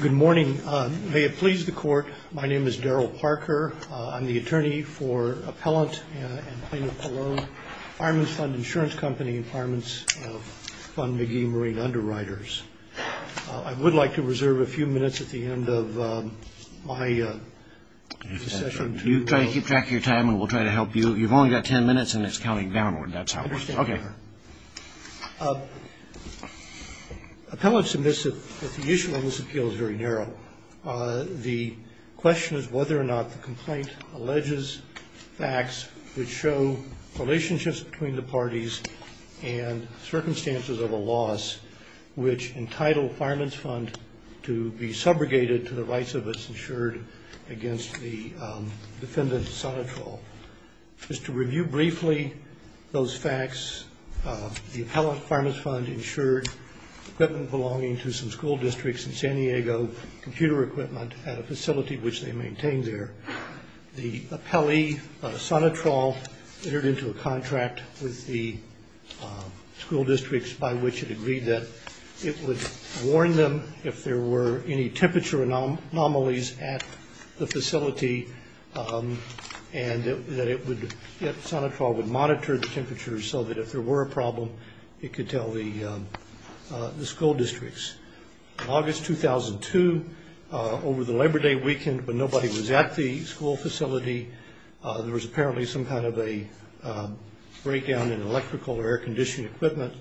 Good morning. May it please the Court, my name is Daryl Parker. I'm the attorney for Appellant and Plaintiff alone, Fireman's Fund Insurance Company and Fireman's Fund McGee Marine Underwriters. I would like to reserve a few minutes at the end of my session. You try to keep track of your time and we'll try to help you. You've only got ten minutes and it's counting downward. That's how it works. I understand, Your Honor. Appellant submits that the issue in this appeal is very narrow. The question is whether or not the complaint alleges facts which show relationships between the parties and circumstances of a loss, which entitle Fireman's Fund to be subrogated to the rights of its insured against the defendant's sonitrol. Just to review briefly those facts, the Appellant and Fireman's Fund insured equipment belonging to some school districts in San Diego, computer equipment, at a facility which they maintained there. The appellee, Sonitrol, entered into a contract with the school districts by which it agreed that it would warn them if there were any temperature anomalies at the facility and that Sonitrol would monitor the temperatures so that if there were a problem, it could tell the school districts. In August 2002, over the Labor Day weekend when nobody was at the school facility, there was apparently some kind of a breakdown in electrical or air-conditioned equipment.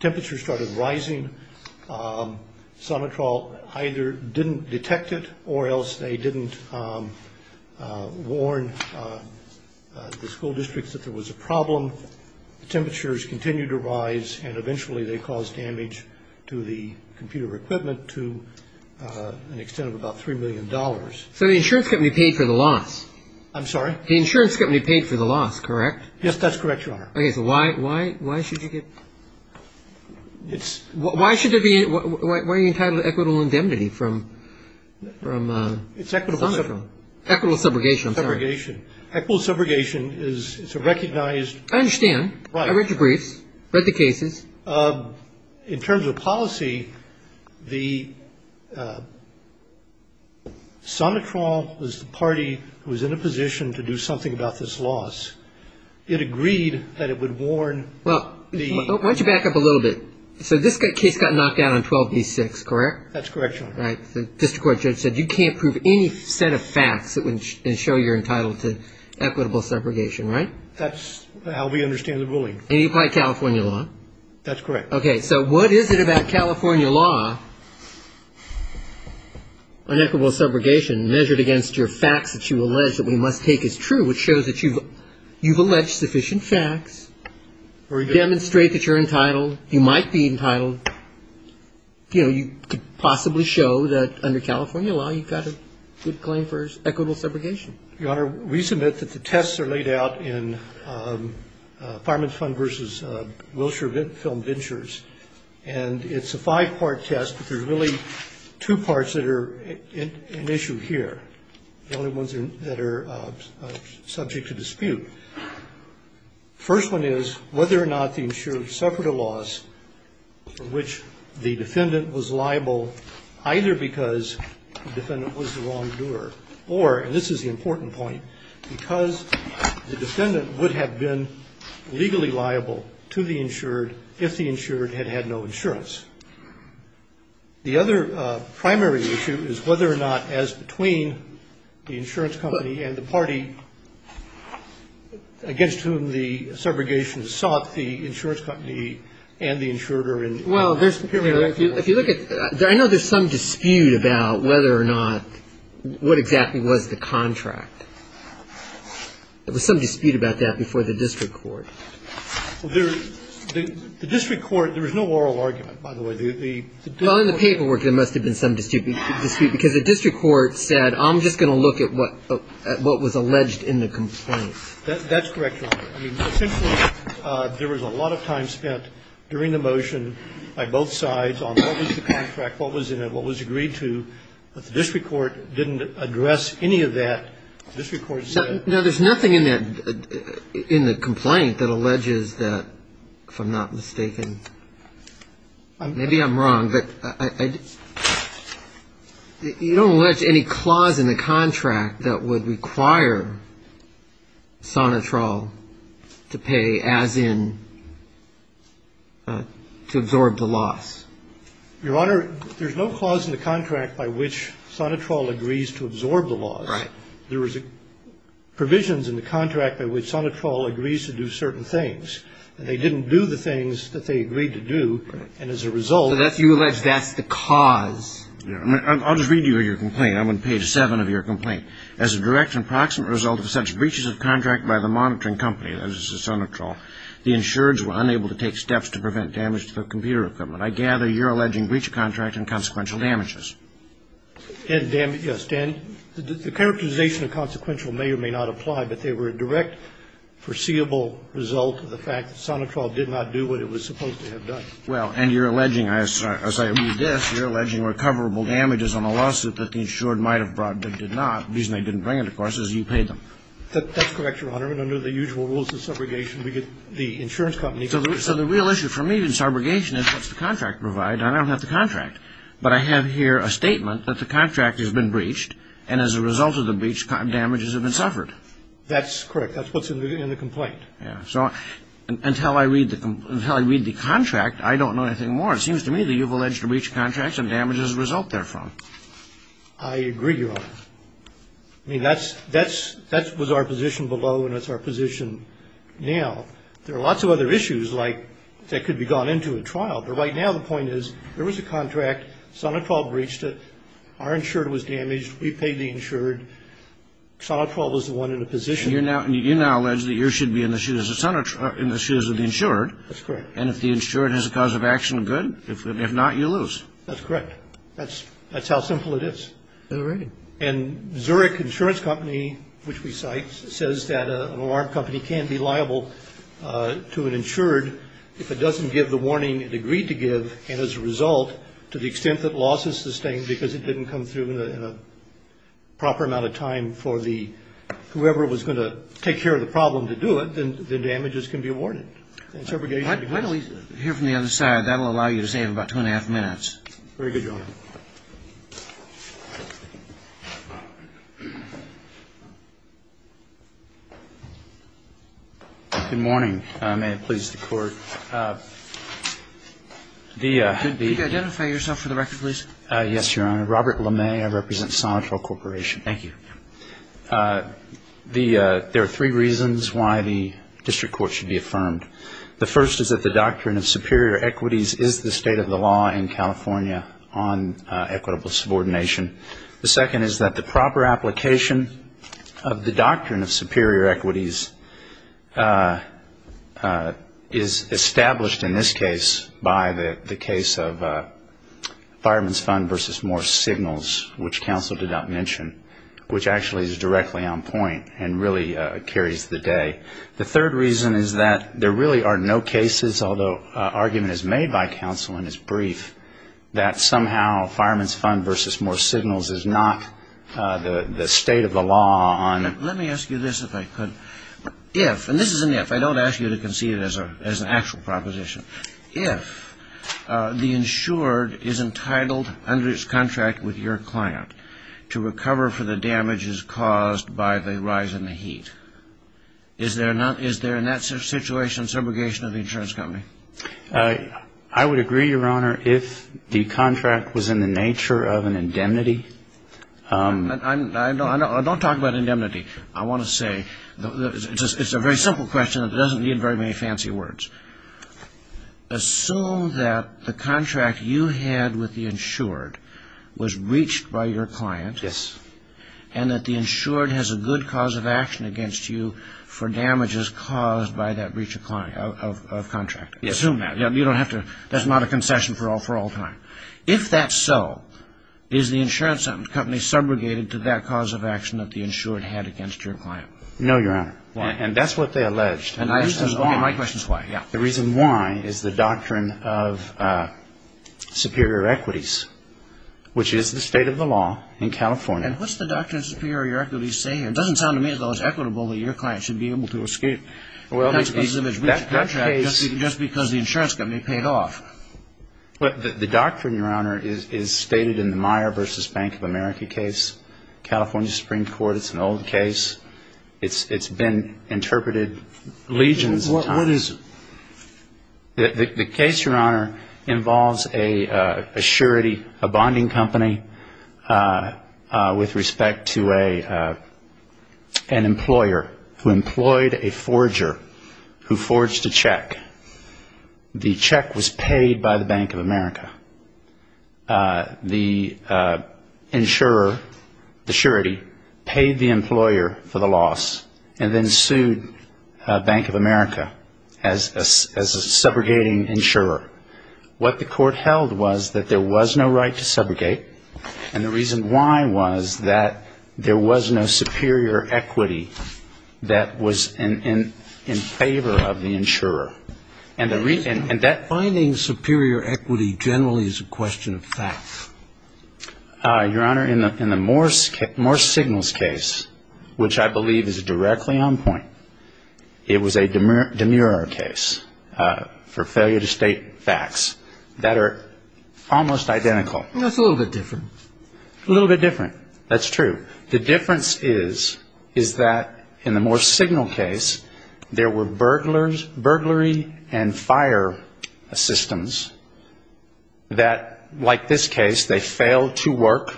Temperatures started rising. Sonitrol either didn't detect it or else they didn't warn the school districts that there was a problem. Temperatures continued to rise and eventually they caused damage to the computer equipment to an extent of about $3 million. So the insurance company paid for the loss? I'm sorry? The insurance company paid for the loss, correct? Yes, that's correct, Your Honor. Okay, so why should you give – why are you entitled to equitable indemnity from Sonitrol? Equitable subrogation, I'm sorry. Equitable subrogation is a recognized – I understand. I read your briefs, read the cases. In terms of policy, Sonitrol was the party who was in a position to do something about this loss. It agreed that it would warn the – Why don't you back up a little bit? So this case got knocked down on 12-B-6, correct? That's correct, Your Honor. All right. The district court judge said you can't prove any set of facts that show you're entitled to equitable subrogation, right? That's how we understand the ruling. And you applied California law? That's correct. Okay, so what is it about California law, unequitable subrogation, measured against your facts that you allege that we must take as true, which shows that you've alleged sufficient facts, demonstrate that you're entitled, you might be entitled, you know, you could possibly show that under California law you've got a good claim for equitable subrogation? Your Honor, we submit that the tests are laid out in Farmers Fund v. Wilshire Film Ventures, and it's a five-part test, but there's really two parts that are an issue here, the only ones that are subject to dispute. The first one is whether or not the insured suffered a loss for which the defendant was liable, either because the defendant was the wrongdoer or, and this is the important point, because the defendant would have been legally liable to the insured if the insured had had no insurance. The other primary issue is whether or not, as between the insurance company and the party against whom the subrogation is sought, the insurance company and the insurer are in a superior position. If you look at, I know there's some dispute about whether or not, what exactly was the contract. There was some dispute about that before the district court. The district court, there was no oral argument, by the way. Well, in the paperwork there must have been some dispute, because the district court said, I'm just going to look at what was alleged in the complaint. That's correct, Your Honor. Essentially, there was a lot of time spent during the motion by both sides on what was the contract, what was in it, what was agreed to. But the district court didn't address any of that. The district court said. Now, there's nothing in that, in the complaint that alleges that, if I'm not mistaken, maybe I'm wrong, but you don't allege any clause in the contract that would require Sonitrol to pay as in to absorb the loss. Your Honor, there's no clause in the contract by which Sonitrol agrees to absorb the loss. Right. There was provisions in the contract by which Sonitrol agrees to do certain things, and they didn't do the things that they agreed to do, and as a result. So you allege that's the cause. I'll just read you your complaint. I'm on page 7 of your complaint. As a direct and proximate result of such breaches of contract by the monitoring company, that is the Sonitrol, the insureds were unable to take steps to prevent damage to their computer equipment. I gather you're alleging breach of contract and consequential damages. Yes, Dan. The characterization of consequential may or may not apply, but they were a direct foreseeable result of the fact that Sonitrol did not do what it was supposed to have Well, and you're alleging, as I read this, you're alleging recoverable damages on a lawsuit that the insured might have brought but did not. The reason they didn't bring it, of course, is you paid them. That's correct, Your Honor. And under the usual rules of subrogation, we get the insurance company. So the real issue for me in subrogation is what's the contract provide, and I don't have the contract. But I have here a statement that the contract has been breached, and as a result of the breach, damages have been suffered. That's correct. That's what's in the complaint. Yes. So until I read the contract, I don't know anything more. It seems to me that you've alleged a breach of contract and damages result therefrom. I agree, Your Honor. I mean, that was our position below, and it's our position now. There are lots of other issues, like, that could be gone into a trial. But right now the point is there was a contract. Sonitrol breached it. Our insurer was damaged. We paid the insured. Sonitrol was the one in a position. You now allege that you should be in the shoes of the insured. That's correct. And if the insured has a cause of action of good, if not, you lose. That's correct. That's how simple it is. All right. And Zurich Insurance Company, which we cite, says that an alarm company can be liable to an insured if it doesn't give the warning it agreed to give, and as a result, to the extent that loss is sustained because it didn't come through in a proper amount of time for the, whoever was going to take care of the problem to do it, then the damages can be awarded. Why don't we hear from the other side? That will allow you to save about two and a half minutes. Very good, Your Honor. Good morning. May it please the Court. Could you identify yourself for the record, please? Yes, Your Honor. Robert LeMay. I represent Sonitrol Corporation. Thank you. There are three reasons why the district court should be affirmed. The first is that the doctrine of superior equities is the state of the law in California on equitable subordination. The second is that the proper application of the doctrine of superior equities is established in this case by the case of Fireman's Fund v. Moore Signals, which counsel did not mention, which actually is directly on point and really carries the day. The third reason is that there really are no cases, although argument is made by counsel in his brief, that somehow Fireman's Fund v. Moore Signals is not the state of the law on... Let me ask you this, if I could. If, and this is an if, I don't ask you to concede it as an actual proposition. If the insured is entitled under his contract with your client to recover for the damages caused by the rise in the heat, is there in that situation subrogation of the insurance company? I would agree, Your Honor, if the contract was in the nature of an indemnity. Don't talk about indemnity. I want to say it's a very simple question that doesn't need very many fancy words. Assume that the contract you had with the insured was breached by your client... Yes. ...and that the insured has a good cause of action against you for damages caused by that breach of contract. Yes. Assume that. You don't have to... That's not a concession for all time. If that's so, is the insurance company subrogated to that cause of action that the insured had against your client? No, Your Honor. Why? And that's what they alleged. Okay, my question is why. The reason why is the doctrine of superior equities, which is the state of the law in California. And what's the doctrine of superior equities say here? It doesn't sound to me as though it's equitable that your client should be able to escape a breach of contract just because the insurance company paid off. The doctrine, Your Honor, is stated in the Meyer v. Bank of America case, California Supreme Court. It's an old case. It's been interpreted legions of times. What is it? The case, Your Honor, involves a surety, a bonding company with respect to an employer who employed a forger who forged a check. The check was paid by the Bank of America. The insurer, the surety, paid the employer for the loss and then sued Bank of America as a subrogating insurer. What the court held was that there was no right to subrogate, and the reason why was that there was no superior equity that was in favor of the insurer. Finding superior equity generally is a question of facts. Your Honor, in the Morse Signals case, which I believe is directly on point, it was a demurrer case for failure to state facts that are almost identical. That's a little bit different. A little bit different. That's true. The difference is, is that in the Morse Signal case, there were burglars, burglary and fire systems that, like this case, they failed to work,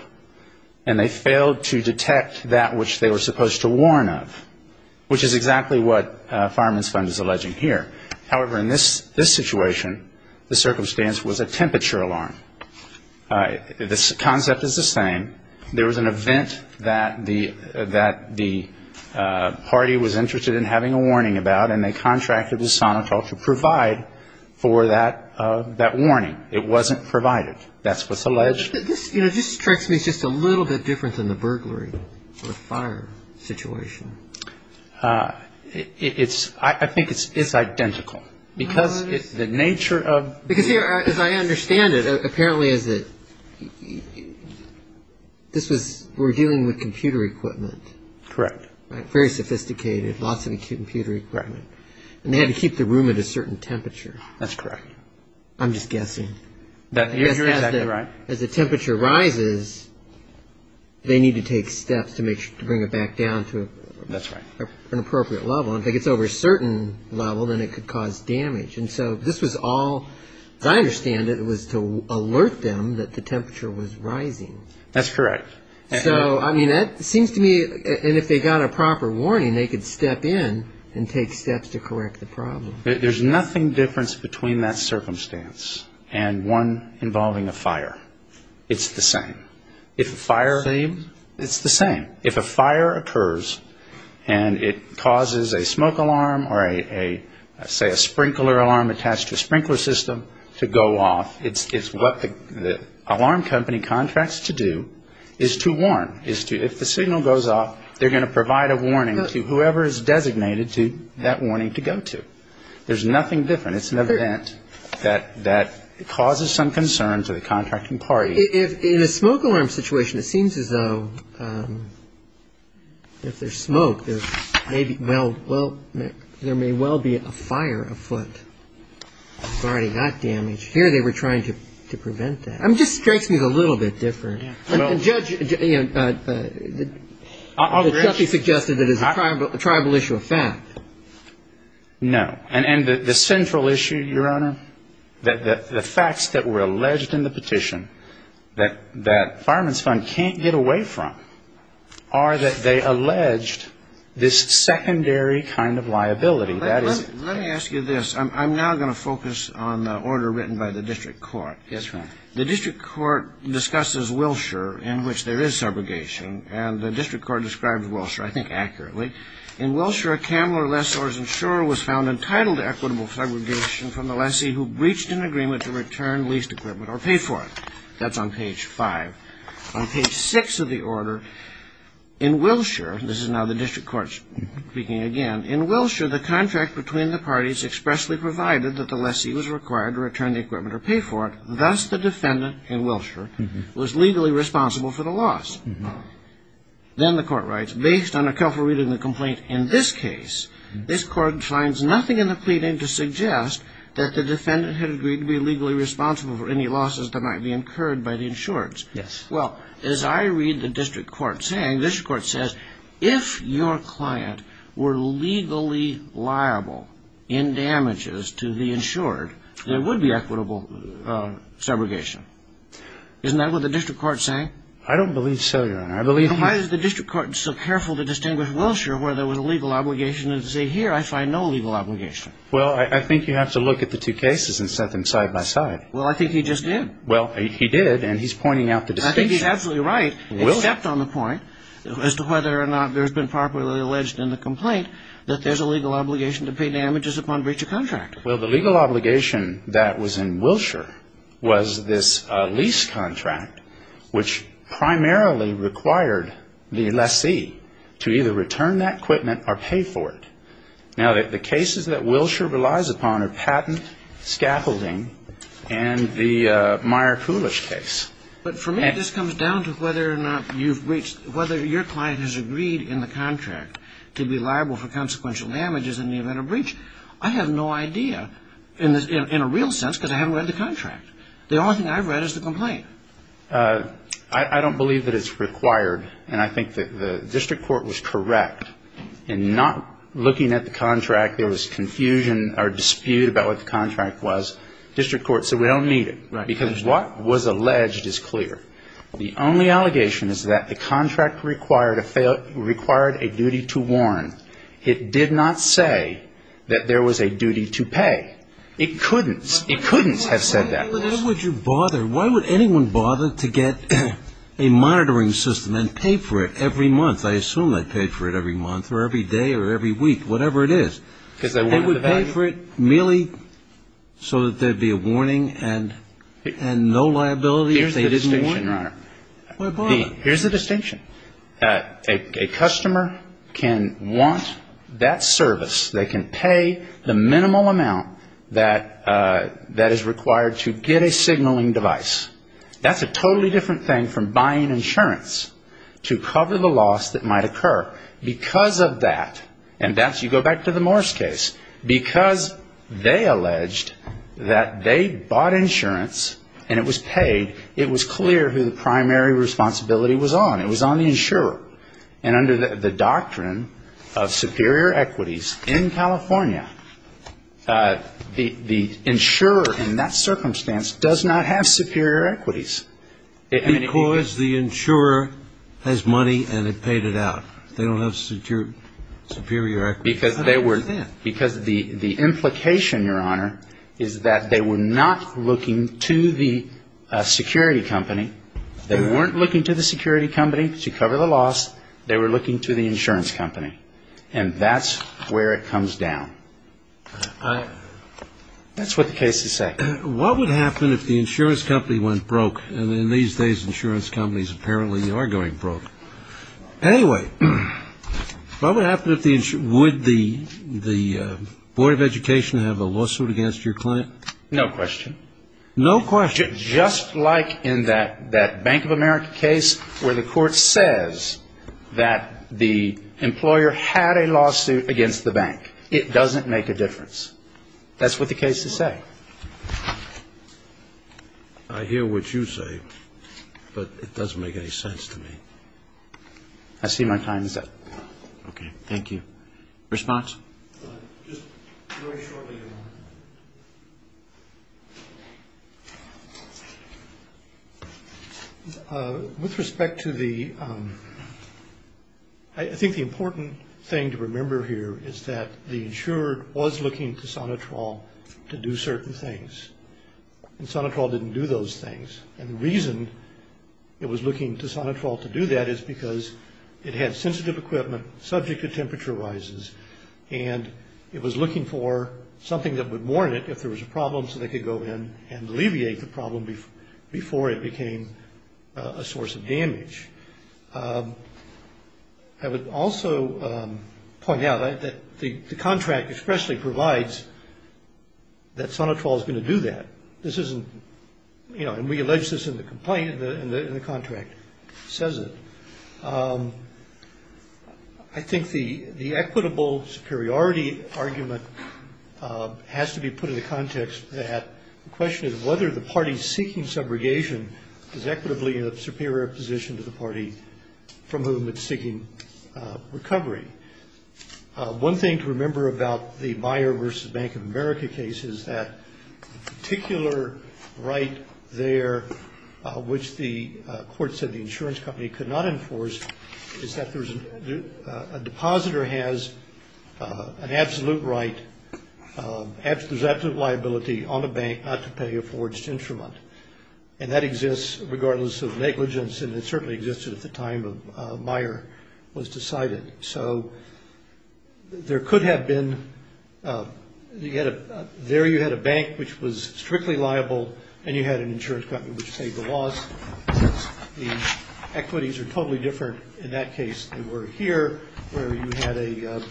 and they failed to detect that which they were supposed to warn of, which is exactly what Fireman's Fund is alleging here. However, in this situation, the circumstance was a temperature alarm. The concept is the same. There was an event that the party was interested in having a warning about, and they contracted the sonotel to provide for that warning. It wasn't provided. That's what's alleged. This, you know, just strikes me as just a little bit different than the burglary or fire situation. I think it's identical, because the nature of the... We're dealing with computer equipment. Correct. Very sophisticated, lots of computer equipment. And they had to keep the room at a certain temperature. That's correct. I'm just guessing. You're exactly right. As the temperature rises, they need to take steps to make sure to bring it back down to an appropriate level. If it gets over a certain level, then it could cause damage. And so this was all, as I understand it, was to alert them that the temperature was rising. That's correct. So, I mean, that seems to me... And if they got a proper warning, they could step in and take steps to correct the problem. There's nothing different between that circumstance and one involving a fire. It's the same. If a fire... Same? It's the same. If a fire occurs and it causes a smoke alarm or a, say, a sprinkler alarm attached to a sprinkler system to go off, it's what the alarm company contracts to do is to warn. If the signal goes off, they're going to provide a warning to whoever is designated to that warning to go to. There's nothing different. It's an event that causes some concern to the contracting party. In a smoke alarm situation, it seems as though if there's smoke, there may well be a fire afoot guarding that damage. Here they were trying to prevent that. It just strikes me as a little bit different. Judge, you know, the judge suggested that it's a tribal issue of fact. No. And the central issue, Your Honor, the facts that were alleged in the petition that Fireman's Fund can't get away from are that they alleged this secondary kind of liability. Let me ask you this. I'm now going to focus on the order written by the district court. Yes, Your Honor. The district court discusses Wilshire, in which there is subrogation, and the district court describes Wilshire, I think, accurately. In Wilshire, a cameler lessor's insurer was found entitled to equitable subrogation from the lessee who breached an agreement to return leased equipment or pay for it. That's on page 5. On page 6 of the order, in Wilshire, this is now the district court speaking again, in Wilshire, the contract between the parties expressly provided that the lessee was required to return the equipment or pay for it. Thus, the defendant in Wilshire was legally responsible for the loss. Then the court writes, based on a careful reading of the complaint in this case, this court finds nothing in the pleading to suggest that the defendant had agreed to be legally responsible for any losses that might be incurred by the insurers. Yes. Well, as I read the district court saying, this court says, if your client were legally liable in damages to the insured, there would be equitable subrogation. Isn't that what the district court is saying? I don't believe so, Your Honor. I believe... Then why is the district court so careful to distinguish Wilshire, where there was a legal obligation, and say, here, I find no legal obligation? Well, I think you have to look at the two cases and set them side by side. Well, I think he just did. Well, he did, and he's pointing out the distinction. I think he's absolutely right, except on the point as to whether or not there's been properly alleged in the complaint that there's a legal obligation to pay damages upon breach of contract. Well, the legal obligation that was in Wilshire was this lease contract, which primarily required the lessee to either return that equipment or pay for it. Now, the cases that Wilshire relies upon are patent, scaffolding, and the Meyer Coolidge case. But for me, this comes down to whether or not you've reached, whether your client has agreed in the contract to be liable for consequential damages in the event of breach. I have no idea, in a real sense, because I haven't read the contract. The only thing I've read is the complaint. I don't believe that it's required, and I think that the district court was correct in not looking at the contract. There was confusion or dispute about what the contract was. District court said we don't need it because what was alleged is clear. The only allegation is that the contract required a duty to warrant. It did not say that there was a duty to pay. It couldn't. It couldn't have said that. Why would you bother? Why would anyone bother to get a monitoring system and pay for it every month? I assume they pay for it every month or every day or every week, whatever it is. They would pay for it merely so that there would be a warning and no liability if they didn't warrant it? Why bother? Here's the distinction. A customer can want that service. They can pay the minimal amount that is required to get a signaling device. That's a totally different thing from buying insurance to cover the loss that might occur. Because of that, and you go back to the Morris case, because they alleged that they bought insurance and it was paid, it was clear who the primary responsibility was on. It was on the insurer. And under the doctrine of superior equities in California, the insurer in that circumstance does not have superior equities. Because the insurer has money and they paid it out. They don't have superior equities. Because the implication, Your Honor, is that they were not looking to the security company. They weren't looking to the security company to cover the loss. They were looking to the insurance company. And that's where it comes down. That's what the case is saying. What would happen if the insurance company went broke? And in these days, insurance companies apparently are going broke. Anyway, what would happen if the insurance company, would the Board of Education have a lawsuit against your client? No question. No question. Just like in that Bank of America case where the court says that the employer had a lawsuit against the bank. It doesn't make a difference. That's what the case is saying. I hear what you say, but it doesn't make any sense to me. I see my time is up. Okay. Thank you. Response? Just very shortly, Your Honor. With respect to the, I think the important thing to remember here is that the insurer was looking to Sonitrol to do certain things. And Sonitrol didn't do those things. And the reason it was looking to Sonitrol to do that is because it had sensitive equipment subject to temperature rises. And it was looking for something that would warn it if there was a problem, so they could go in and alleviate the problem before it became a source of damage. I would also point out that the contract expressly provides that Sonitrol is going to do that. This isn't, you know, and we allege this in the complaint, and the contract says it. I think the equitable superiority argument has to be put in the context that the question is whether the party seeking subrogation is equitably in a superior position to the party from whom it's seeking recovery. One thing to remember about the Meijer v. Bank of America case is that particular right there, which the court said the insurance company could not enforce, is that a depositor has an absolute right, there's absolute liability on a bank not to pay a forged instrument. And that exists regardless of negligence, and it certainly existed at the time Meijer was decided. So there could have been, there you had a bank which was strictly liable, and you had an insurance company which paid the loss. The equities are totally different in that case than were here, where you had a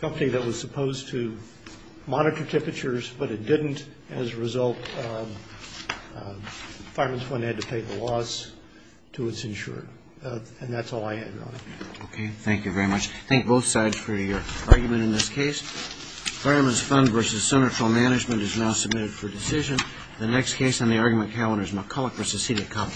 company that was supposed to monitor temperatures, but it didn't. As a result, Fireman's Fund had to pay the loss to its insurer. And that's all I have, Your Honor. Okay. Thank you very much. Thank both sides for your argument in this case. Fireman's Fund v. Senatorial Management is now submitted for decision. The next case on the argument calendar is McCulloch v. Cita Company. Thank you.